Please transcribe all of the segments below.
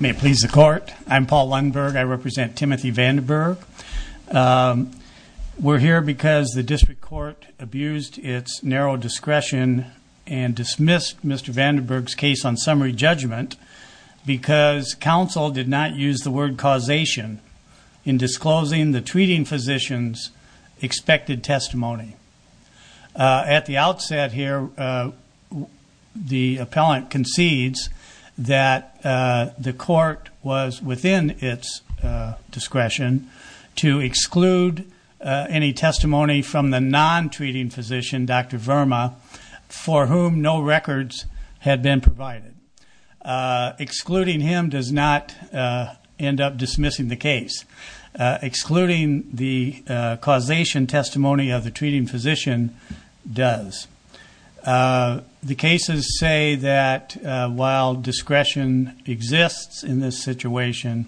May it please the court. I'm Paul Lundberg. I represent Timothy Vanderberg. We're here because the district court abused its narrow discretion and dismissed Mr. Vanderberg's case on summary judgment because counsel did not use the word causation in disclosing the treating physician's expected testimony. At the outset here, the appellant concedes that the court was within its discretion to exclude any testimony from the non-treating physician, Dr. Verma, for whom no records had been provided. Excluding him does not end up dismissing the case. Excluding the causation testimony of the treating physician does. The cases say that while discretion exists in this situation,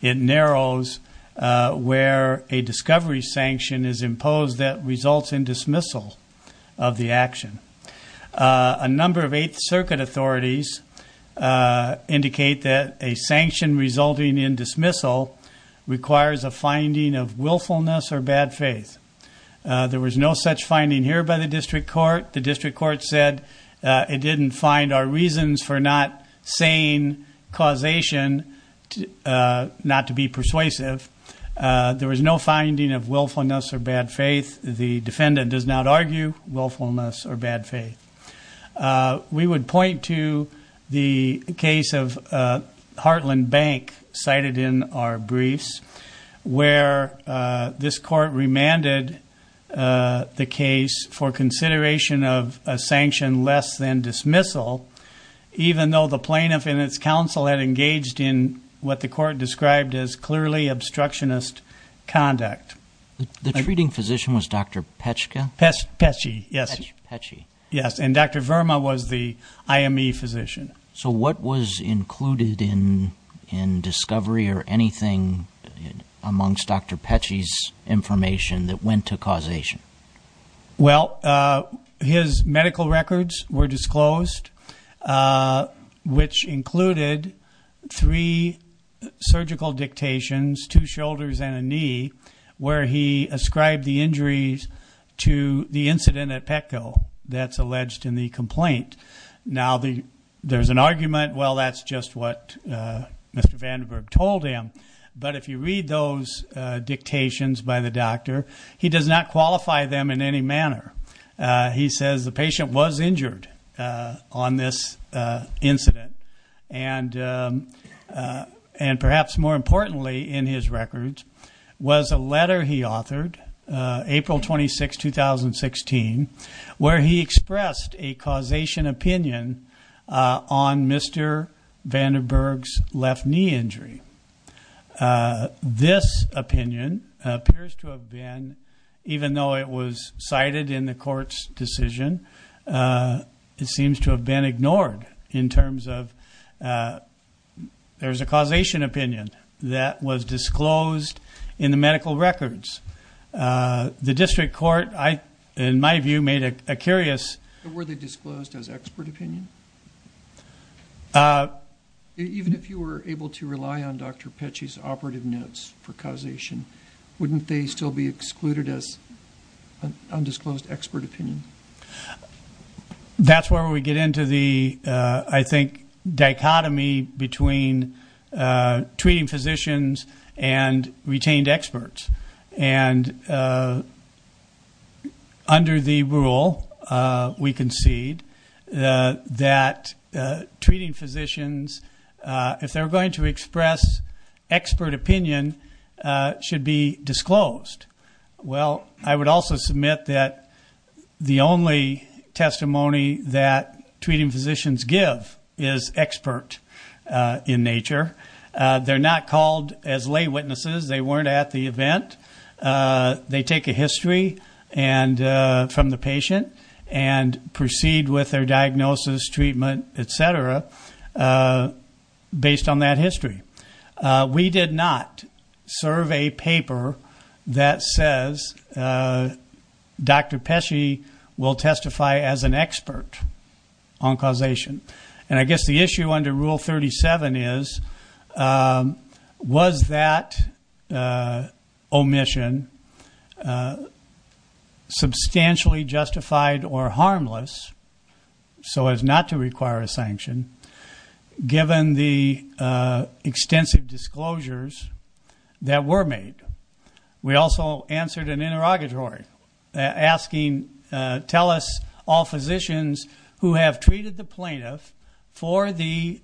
it narrows where a discovery sanction is imposed that results in dismissal of the action. A number of Eighth Circuit authorities indicate that a sanction resulting in dismissal requires a finding of willfulness or bad faith. There was no such finding here by the district court. The district court said it didn't find our reasons for not saying causation not to be persuasive. There was no finding of willfulness or bad faith. The defendant does not argue willfulness or bad faith. We would point to the case of Heartland Bank cited in our briefs where this court remanded the case for consideration of a sanction less than dismissal even though the plaintiff and its counsel had engaged in what the court described as clearly obstructionist conduct. The treating physician was Dr. Petschke? Petschke, yes. And Dr. Verma was the IME physician. So what was included in in discovery or anything amongst Dr. Petschke's information that went to causation? Well, his medical records were disclosed which included three surgical dictations, two shoulders and a knee, where he ascribed the injuries to the incident at Petco that's alleged in the complaint. Now there's an argument, well that's just what Mr. Vandenberg told him, but if you read those dictations by the doctor he does not qualify them in any manner. He says the patient was injured on this incident and and perhaps more importantly in his records was a letter he authored April 26, 2016 where he expressed a causation opinion on Mr. Vandenberg's left knee injury. This opinion appears to have been, even though it was cited in the court's decision, it seems to have been ignored in terms of there's a causation opinion that was disclosed in the medical records. The district court, in my view, made a curious... Were they disclosed as expert opinion? Even if you were able to rely on Dr. Petchy's operative notes for causation, wouldn't they still be excluded as undisclosed expert opinion? That's where we get into the, I think, dichotomy between treating physicians and retained experts. And under the rule we concede that treating physicians, if they're going to express expert opinion, should be disclosed. Well, I would also submit that the only testimony that treating physicians give is expert in nature. They're not called as lay patient and proceed with their diagnosis, treatment, etc. based on that history. We did not serve a paper that says Dr. Petchy will testify as an expert on causation. And I guess the issue under Rule 37 is, was that omission substantially justified or harmless, so as not to require a sanction, given the extensive disclosures that were made. We also answered an interrogatory, asking, tell us all physicians who have treated the plaintiff for the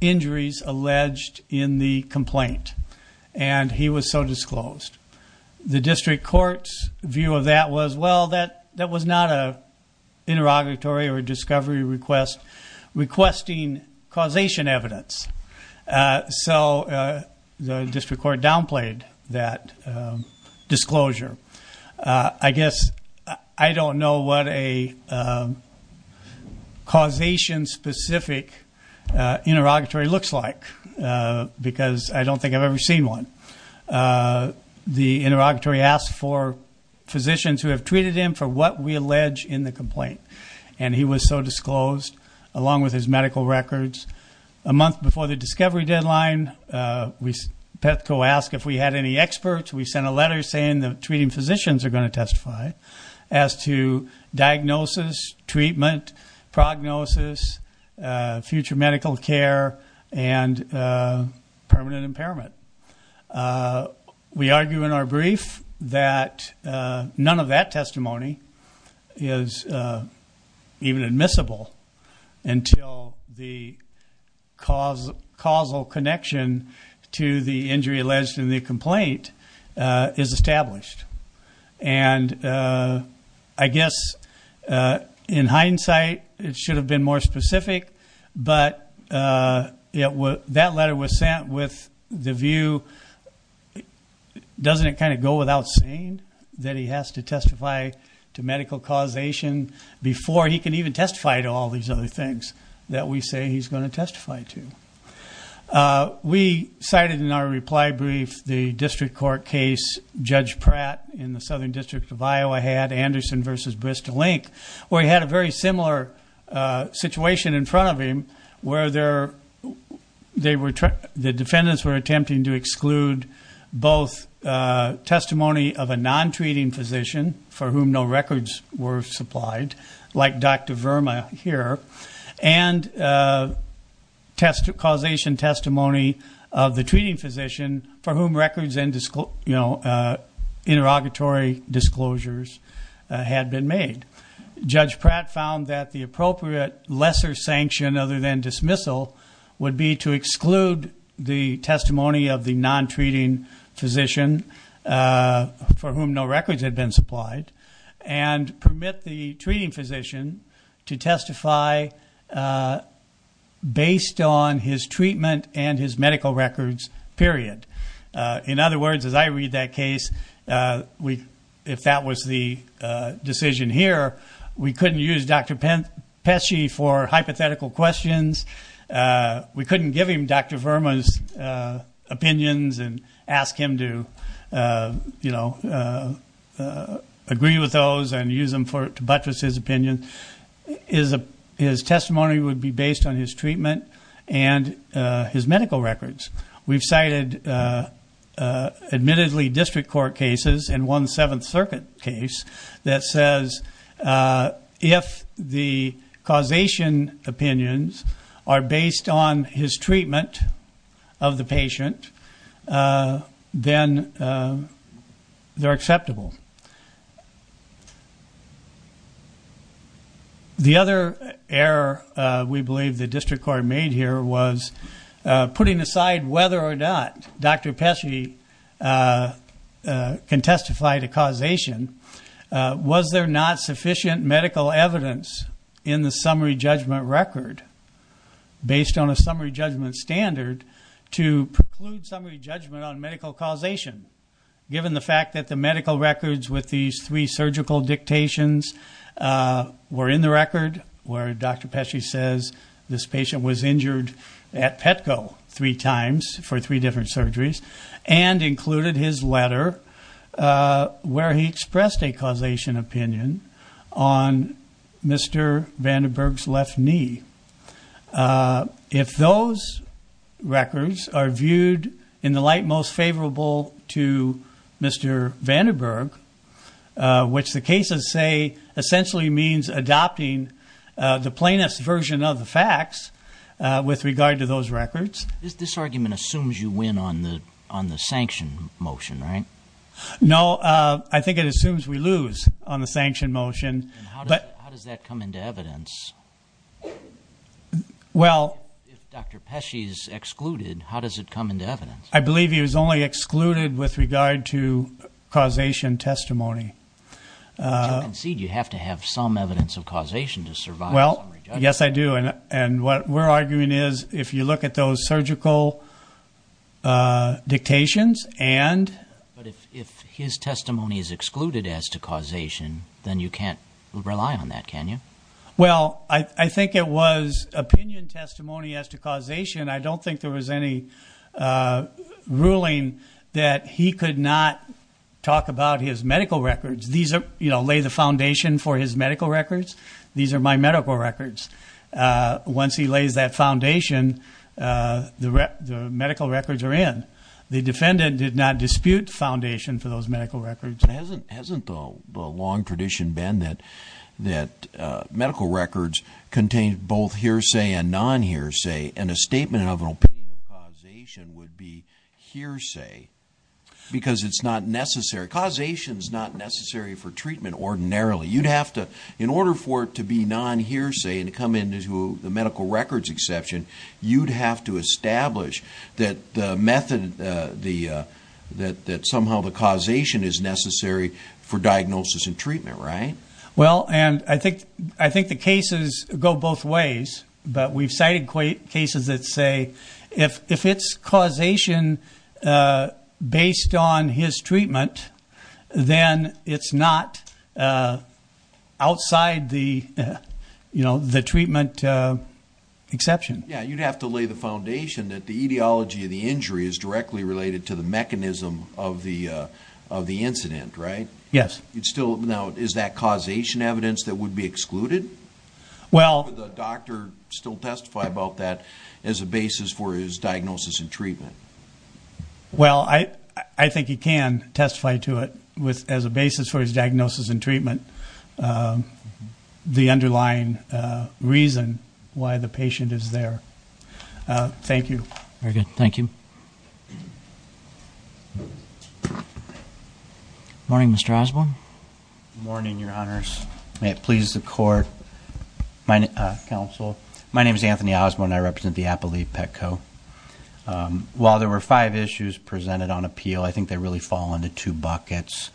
injuries alleged in the complaint. And he was so disclosed. The district court's view of that was, well, that was not an interrogatory or discovery request requesting causation evidence. So the district court downplayed that disclosure. I guess I don't know what a causation-specific interrogatory looks like, because I don't think I've ever seen one. The interrogatory asked for physicians who have treated him for what we allege in the complaint. And he was so disclosed, along with his medical records. A month before the discovery deadline, Petco asked if we had any experts. We sent a letter saying the treating physicians are going to testify as to diagnosis, treatment, prognosis, future medical care, and permanent impairment. We argue in our brief that none of that testimony is even admissible until the causal connection to the injury alleged in the complaint is established. And I guess, in hindsight, it should have been more the view, doesn't it kind of go without saying, that he has to testify to medical causation before he can even testify to all these other things that we say he's going to testify to. We cited in our reply brief the district court case Judge Pratt in the Southern District of Iowa had, Anderson v. Bristol-Link, where he had a very similar situation in front of him, where the defendants were attempting to exclude both testimony of a non-treating physician, for whom no records were supplied, like Dr. Verma here, and causation testimony of the treating physician, for whom records and interrogatory disclosures had been made. Judge Pratt found that the appropriate lesser sanction, other than dismissal, would be to exclude the testimony of the non-treating physician, for whom no records had been supplied, and permit the treating physician to testify based on his treatment and his medical records, period. In other words, as I read that case, if that was the decision here, we couldn't use Dr. Pesci for hypothetical questions. We couldn't give him Dr. Verma's opinions and ask him to, you know, agree with those and use them to buttress his opinion. His testimony would be based on his treatment and his medical records. We've cited, admittedly, district court cases and one Seventh Circuit case that says if the causation opinions are based on his treatment of the patient, then they're acceptable. The other error we believe the district court made here was putting aside whether or not Dr. Pesci can testify to causation. Was there not sufficient medical evidence in the summary judgment record, based on a summary judgment standard, to preclude summary judgment on medical causation, given the fact that the medical records with these three surgical dictations were in the record where Dr. Pesci says this patient was injured at Petco three times for three different surgeries and included his letter where he expressed a causation opinion on Mr. Vandenberg's left knee. If those records are viewed in the light most favorable to Mr. Vandenberg, which the cases say essentially means adopting the plainest version of the facts with regard to those records. This argument assumes you win on the on the sanction motion, right? No, I think it assumes we lose on the sanction motion. But how does that come into evidence? Well, if Dr. Pesci is excluded, how does it come into evidence? I believe he was only excluded with regard to causation testimony. Do you concede you have to have some evidence of causation to survive? Well, yes I do, and what we're arguing is if you look at those surgical dictations and... But if his testimony is reliant on that, can you? Well, I think it was opinion testimony as to causation. I don't think there was any ruling that he could not talk about his medical records. These are, you know, lay the foundation for his medical records. These are my medical records. Once he lays that foundation, the medical records are in. The defendant did not dispute foundation for those medical records. Hasn't the long tradition been that medical records contain both hearsay and non-hearsay, and a statement of an opinion of causation would be hearsay because it's not necessary. Causation is not necessary for treatment ordinarily. You'd have to, in order for it to be non-hearsay and come into the medical records exception, you'd have to establish that somehow the causation is necessary for diagnosis and treatment, right? Well, and I think the cases go both ways, but we've cited cases that say if it's causation based on his treatment, then it's not outside the treatment exception. Yeah, you'd have to lay the foundation that the ideology of the injury is directly related to the mechanism of the incident, right? Yes. It's still, now, is that causation evidence that would be excluded? Well... Would the doctor still testify about that as a basis for his diagnosis and treatment? Well, I think he can testify to it as a basis for his diagnosis and treatment and the underlying reason why the patient is there. Thank you. Very good. Thank you. Morning, Mr. Osborne. Morning, Your Honors. May it please the Court, Council. My name is Anthony Osborne. I represent the Appalachia Petco. While there were five issues presented on appeal, I think they really fall into two buckets.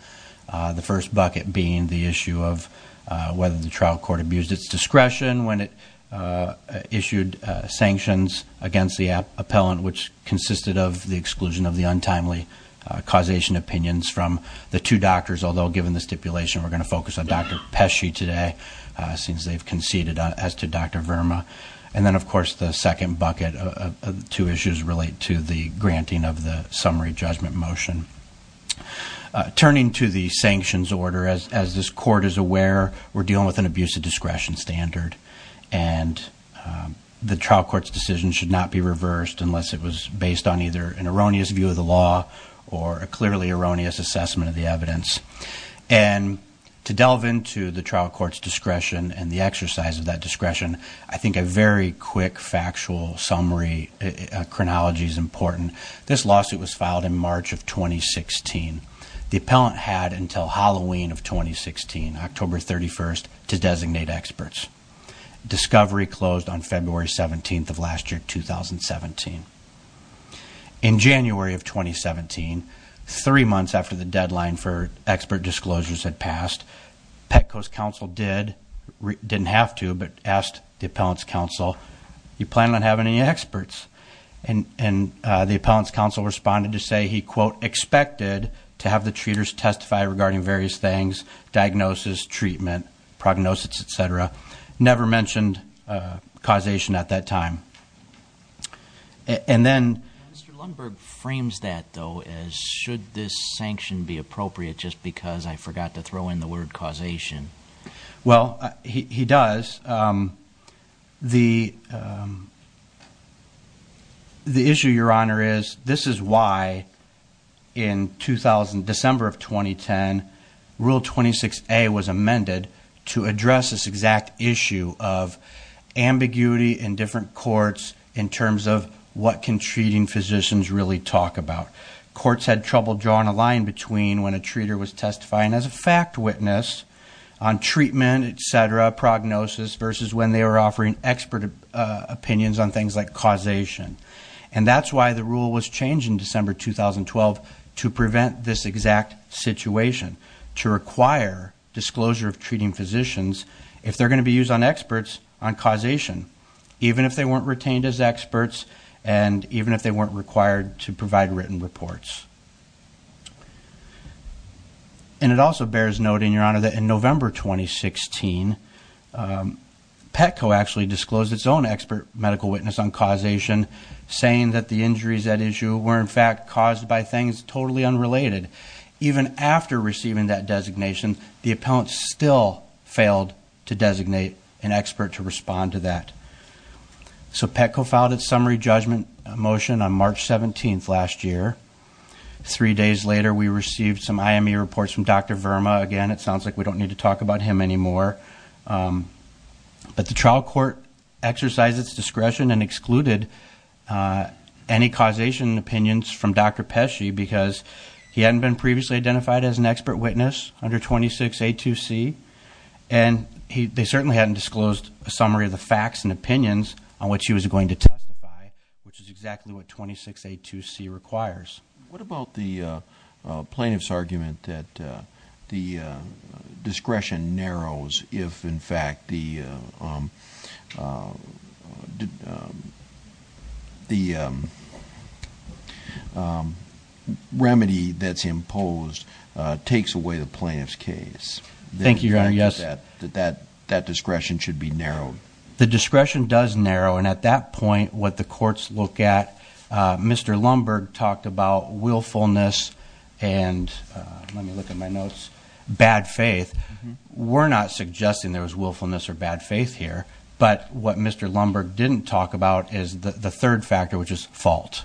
The first bucket being the issue of whether the trial court abused its discretion when it issued sanctions against the appellant, which consisted of the exclusion of the untimely causation opinions from the two doctors, although given the stipulation we're going to focus on Dr. Pesci today, since they've conceded as to Dr. Verma. And then, of course, the second bucket of two issues relate to the judgment motion. Turning to the sanctions order, as this Court is aware, we're dealing with an abusive discretion standard and the trial court's decision should not be reversed unless it was based on either an erroneous view of the law or a clearly erroneous assessment of the evidence. And to delve into the trial court's discretion and the exercise of that discretion, I think a very quick factual summary chronology is important. This lawsuit was filed in March of 2016. The appellant had until Halloween of 2016, October 31st, to designate experts. Discovery closed on February 17th of last year, 2017. In January of 2017, three months after the deadline for expert disclosures had passed, Petco's counsel did, didn't have to, but asked the appellant's counsel, you plan on having any experts? And the appellant's counsel responded to say he, quote, expected to have the treaters testify regarding various things, diagnosis, treatment, prognosis, et cetera. Never mentioned causation at that time. And then... Mr. Lundberg frames that, though, as should this sanction be appropriate just because I forgot to throw in the word causation? Well, he does. The issue, Your Honor, is this is why in 2000, December of 2010, Rule 26A was amended to address this exact issue of ambiguity in different courts in terms of what can treating physicians really talk about. Courts had trouble drawing a line between when a treater was testifying as a fact witness on treatment, et cetera, prognosis, versus when they were offering expert opinions on things like causation. And that's why the rule was changed in December 2012 to prevent this exact situation, to require disclosure of treating physicians if they're going to be used on experts on causation, even if they And it also bears noting, Your Honor, that in November 2016, Petco actually disclosed its own expert medical witness on causation, saying that the injuries at issue were in fact caused by things totally unrelated. Even after receiving that designation, the appellant still failed to designate an expert to respond to that. So Petco filed its summary judgment motion on March 17th last year. Three days later, we received some IME reports from Dr. Verma. Again, it sounds like we don't need to talk about him anymore. But the trial court exercised its discretion and excluded any causation opinions from Dr. Pesci because he hadn't been previously identified as an expert witness under 26A2C, and they certainly hadn't disclosed a summary of the facts and opinions on what she was going to testify, which is exactly what 26A2C requires. What about the plaintiff's argument that the discretion narrows if, in fact, the remedy that's imposed takes away the plaintiff's case? Thank you, Your Honor. Yes. That discretion should be narrowed. The discretion does narrow, and at that point, what the courts look at, Mr. Lumberg talked about willfulness and, let me look at my notes, bad faith. We're not suggesting there was willfulness or bad faith here, but what Mr. Lumberg didn't talk about is the third factor, which is fault.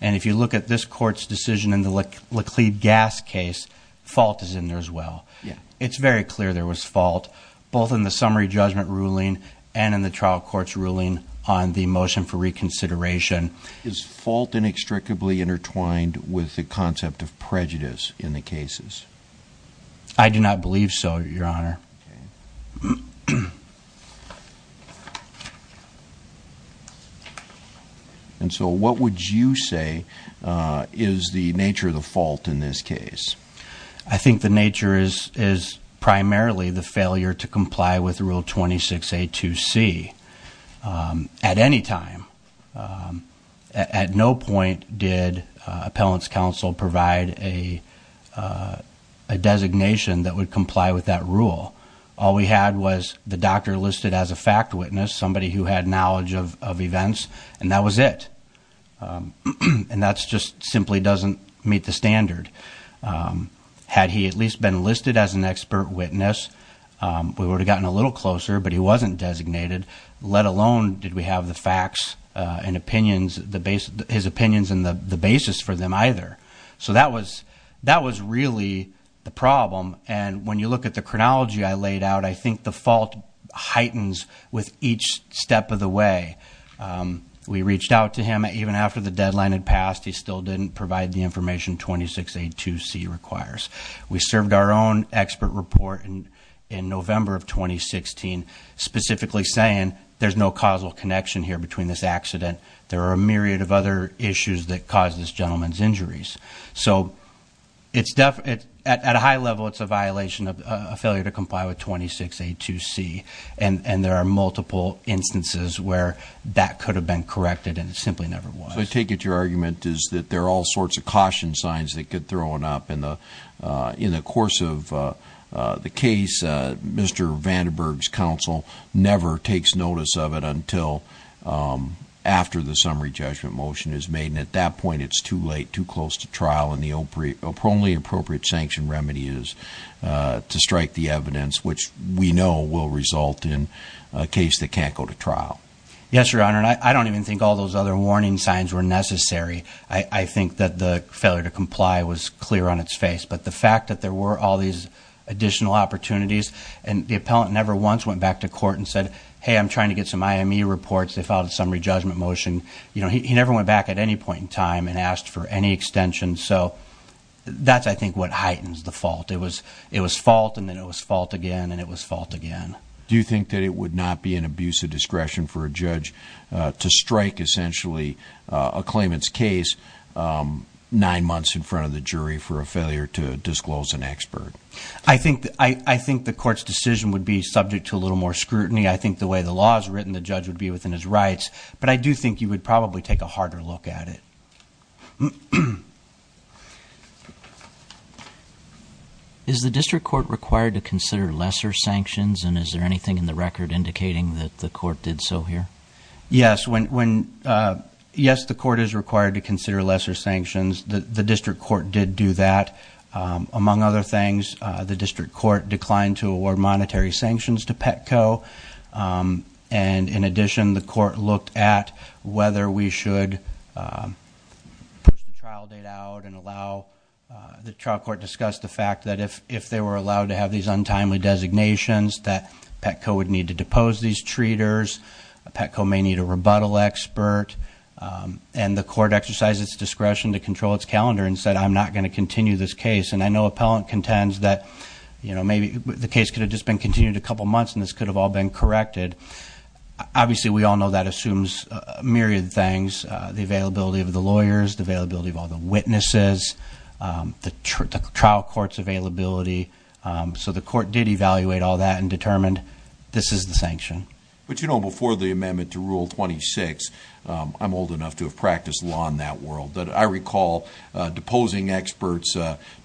And if you look at this court's decision in the Laclede Gas case, fault is in there as well. It's very clear there was fault, both in the summary judgment ruling and in the trial court's ruling on the motion for reconsideration. Is fault inextricably intertwined with the concept of prejudice in the cases? I do not believe so, Your Honor. And so what would you say is the nature of the fault in this case? I think the nature is primarily the failure to comply with Rule 26A2C. At any time, at no point did Appellant's Counsel provide a designation that would comply with that rule. All we had was the doctor listed as a fact witness, somebody who had knowledge of events, and that was it. And that just simply doesn't meet the standard. Had he at least been listed as an expert witness, we would have gotten a little closer, but he wasn't designated, let alone did we have the facts and opinions, his opinions and the basis for them either. So that was really the problem, and when you look at the chronology I laid out, I think the fault heightens with each step of the way. We reached out to him even after the deadline had passed. He still didn't provide the information 26A2C requires. We served our own expert report in November of 2016, specifically saying there's no causal connection here between this accident. There are a myriad of other issues that cause this gentleman's to see, and there are multiple instances where that could have been corrected and it simply never was. So I take it your argument is that there are all sorts of caution signs that get thrown up in the course of the case. Mr. Vandenberg's Counsel never takes notice of it until after the summary judgment motion is made, and at that point it's too late, too close to trial, and the only appropriate sanction remedy is to strike the evidence, which we know will result in a case that can't go to trial. Yes, Your Honor, and I don't even think all those other warning signs were necessary. I think that the failure to comply was clear on its face, but the fact that there were all these additional opportunities, and the appellant never once went back to court and said, hey, I'm trying to get some IME reports. They filed a summary judgment motion. He never went back at any point in time and asked for any extension. So that's, I think, what heightens the fault. It was fault, and then it was fault again, and it was fault again. Do you think that it would not be an abuse of discretion for a judge to strike, essentially, a claimant's case nine months in front of the jury for a failure to disclose an expert? I think the court's decision would be subject to a little more scrutiny. I think the way the law is written, the judge would be within his rights, but I do think he would probably take a harder look at it. Is the district court required to consider lesser sanctions, and is there anything in the record indicating that the court did so here? Yes, when, yes, the court is required to consider lesser sanctions. The district court did do that. Among other things, the district court declined to award monetary sanctions to Petco, and, in addition, the court looked at whether we should push the trial date out and allow the trial court discuss the fact that if they were allowed to have these untimely designations, that Petco would need to depose these treaters. Petco may need a rebuttal expert, and the court exercised its discretion to control its calendar and said, I'm not going to continue this case. And I know appellant contends that, you know, maybe the case could have just been continued a couple months, and this could have all been corrected. Obviously, we all know that assumes a myriad of things, the availability of the lawyers, the availability of all the witnesses, the trial court's availability. So the court did evaluate all that and determined this is the sanction. But, you know, before the amendment to Rule 26, I'm old enough to have practiced law in that world, that I recall deposing experts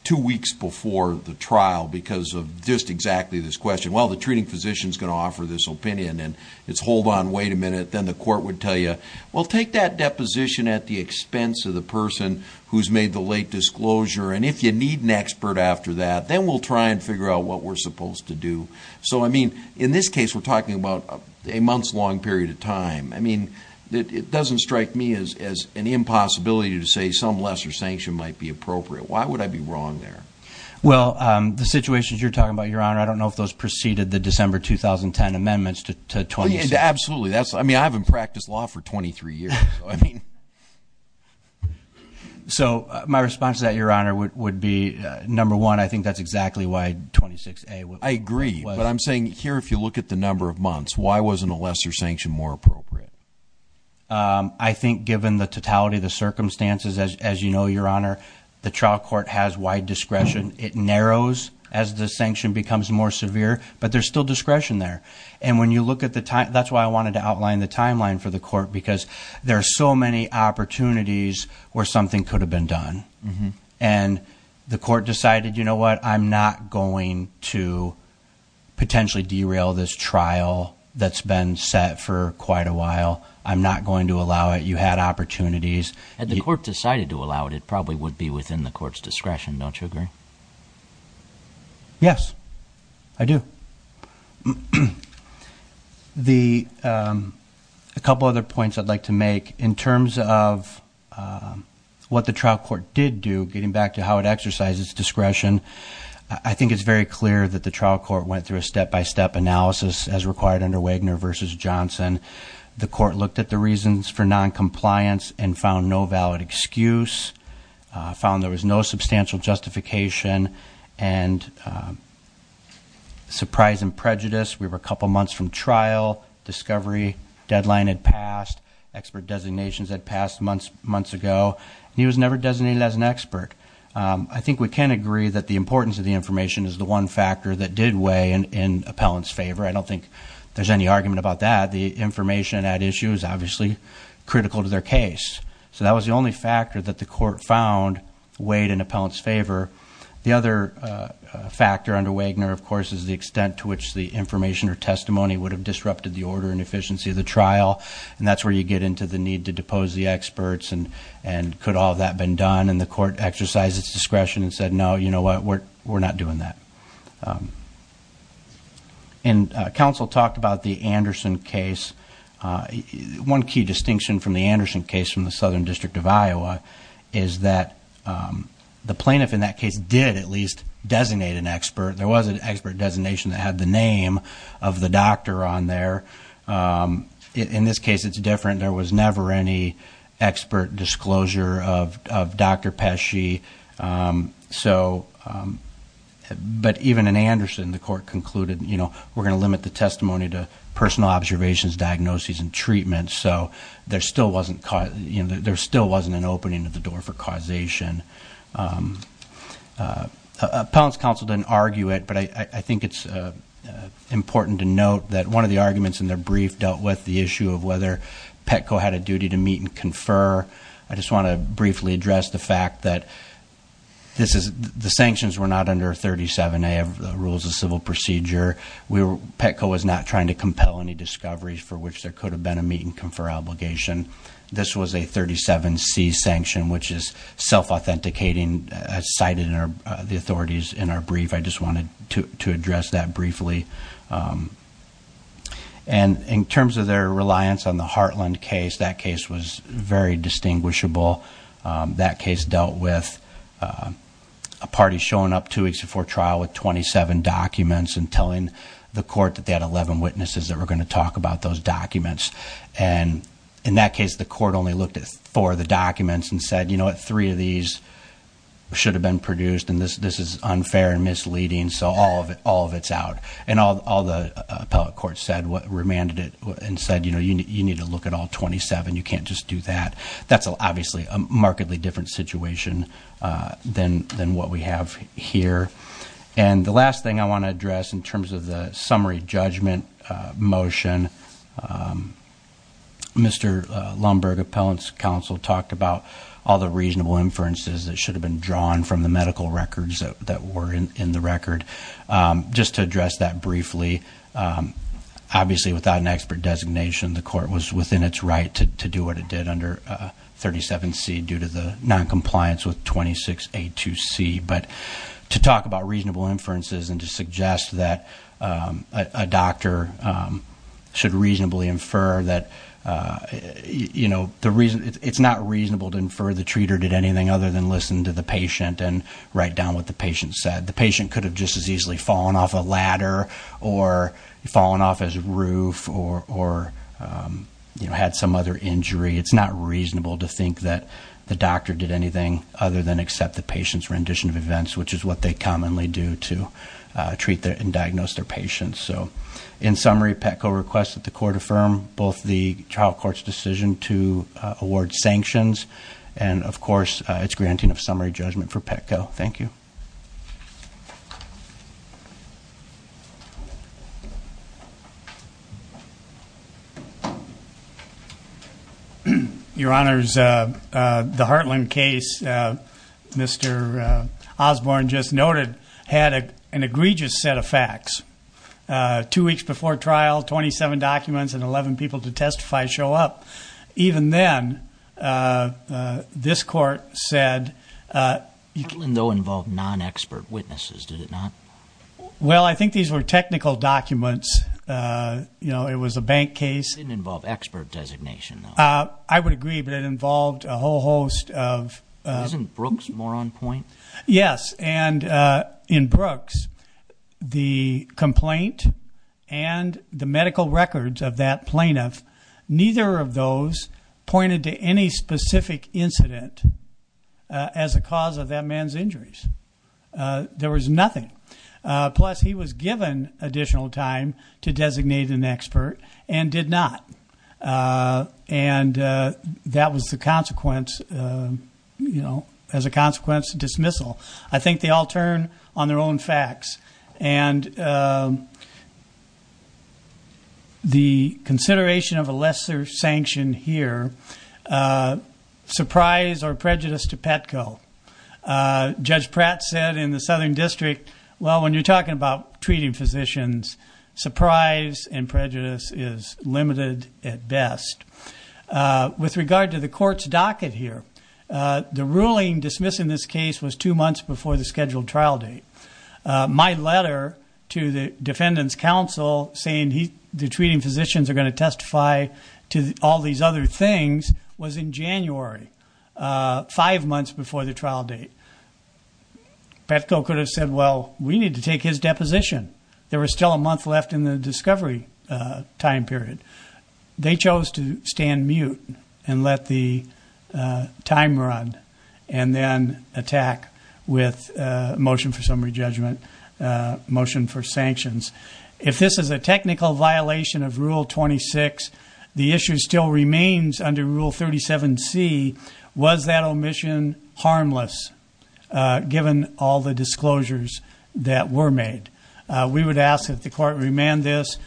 two weeks before the trial because of just how the treating physician's going to offer this opinion. And it's, hold on, wait a minute. Then the court would tell you, well, take that deposition at the expense of the person who's made the late disclosure. And if you need an expert after that, then we'll try and figure out what we're supposed to do. So, I mean, in this case, we're talking about a months-long period of time. I mean, it doesn't strike me as an impossibility to say some lesser sanction might be appropriate. Why would I be wrong there? Well, the situations you're talking about, Your Honor, I don't know if those preceded the December 2010 amendments to 26. Absolutely. I mean, I haven't practiced law for 23 years. So my response to that, Your Honor, would be, number one, I think that's exactly why 26A was... I agree. But I'm saying here, if you look at the number of months, why wasn't a lesser sanction more appropriate? I think given the totality of the circumstances, as you know, Your Honor, the trial court has wide discretion. It narrows as the sanction becomes more severe, but there's still discretion there. And when you look at the time... That's why I wanted to outline the timeline for the court, because there are so many opportunities where something could have been done. And the court decided, you know what, I'm not going to potentially derail this trial that's been set for quite a while. I'm not going to allow it. You had opportunities. Had the court decided to allow it, it probably would be within the court's discretion. Don't you agree? Yes, I do. A couple other points I'd like to make. In terms of what the trial court did do, getting back to how it exercises discretion, I think it's very clear that the trial court went through a step-by-step analysis, as required under Wagner v. Johnson. The court looked at the reasons for noncompliance and found no valid excuse. Found there was no substantial justification and surprise and prejudice. We were a couple months from trial. Discovery deadline had passed. Expert designations had passed months ago. He was never designated as an expert. I think we can agree that the importance of the information is the one factor that did weigh in appellant's favor. I don't think there's any argument about that. The information at issue is obviously critical to their case. That was the only factor that the court found weighed in appellant's favor. The other factor under Wagner, of course, is the extent to which the information or testimony would have disrupted the order and efficiency of the trial. That's where you get into the need to depose the experts. Could all of that have been done? The court exercised its discretion and said, no, you know what? We're not doing that. Council talked about the Anderson case. One key distinction from the Anderson case from the Southern District of Iowa is that the plaintiff in that case did at least designate an expert. There was an expert designation that had the name of the doctor on there. In this case, it's different. There was never any expert disclosure of Dr. Pesci. But even in Anderson, the court concluded, you know, we're going to limit the testimony to personal observations, diagnoses, and treatments. So there still wasn't an opening of the door for causation. Appellant's counsel didn't argue it, but I think it's important to note that one of the arguments in their brief dealt with the issue of whether Petco had a duty to meet and confer. I just want to briefly address the fact that the sanctions were not under 37A of the Rules of Civil Procedure. Petco was not trying to compel any discoveries for which there could have been a meet and confer obligation. This was a 37C sanction, which is self-authenticating, as cited in the authorities in our brief. I just wanted to address that briefly. And in terms of their reliance on the Heartland case, that case was very distinguishable. That case dealt with a party showing up two weeks before trial with 27 documents and telling the court that they had 11 witnesses that were going to talk about those documents. And in that case, the court only looked at four of the documents and said, you know what, three of these should have been produced, and this is unfair and misleading, so all of it's out. And all the appellate court said, remanded it and said, you know, you need to look at all 27, you can't just do that. That's obviously a markedly different situation than what we have here. And the last thing I want to address in terms of the summary judgment motion, Mr. Lumberg, Appellant's Counsel, talked about all the reasonable inferences that should have been drawn from the medical records that were in the record. Just to address that briefly, obviously, without an expert designation, the court was within its right to do what it did under 37C due to the noncompliance with 26A2C. But to talk about reasonable inferences and to suggest that a doctor should reasonably infer that, you know, it's not reasonable to infer the treater did anything other than listen to the patient and write down what the patient said. The patient could have just as easily fallen off a ladder or fallen off his roof or, you know, had some other injury. It's not reasonable to think that the doctor did anything other than accept the patient's rendition of events, which is what they commonly do to treat and diagnose their patients. So in summary, Petco requested that the court affirm both the trial court's decision to summary judgment for Petco. Thank you. Your Honors, the Hartland case Mr. Osborne just noted had an egregious set of facts. Two weeks before trial, 27 documents and 11 people to testify show up. Even then, this Hartland, though, involved non-expert witnesses, did it not? Well, I think these were technical documents. You know, it was a bank case. It didn't involve expert designation, though. I would agree, but it involved a whole host of... Isn't Brooks more on point? Yes, and in Brooks, the complaint and the medical records of that plaintiff, neither of those pointed to any specific incident as a cause of that man's injuries. There was nothing. Plus, he was given additional time to designate an expert and did not. And that was the consequence, you know, as a consequence of dismissal. I think they all turn on their own facts. And the consideration of a lesser sentence, a lesser sanction here, surprise or prejudice to Petco. Judge Pratt said in the Southern District, well, when you're talking about treating physicians, surprise and prejudice is limited at best. With regard to the court's docket here, the ruling dismissing this case was two months before the scheduled trial date. My letter to the Defendant's Counsel saying the treating physicians are going to testify to all these other things was in January, five months before the trial date. Petco could have said, well, we need to take his deposition. There was still a month left in the discovery time period. They chose to stand mute and let the time run and then attack with a motion for summary judgment, motion for sanctions. If this is a technical violation of Rule 26, the issue still remains under Rule 37C, was that omission harmless given all the disclosures that were made? We would ask that the court remand this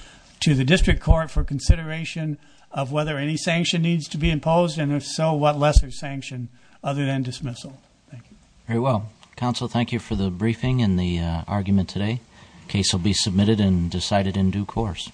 to the District Court for consideration of whether any sanction needs to be imposed and if so, what lesser sanction other than dismissal. Thank you. Very well. Counsel, thank you for the briefing and the argument today. The case will be submitted and decided in due course.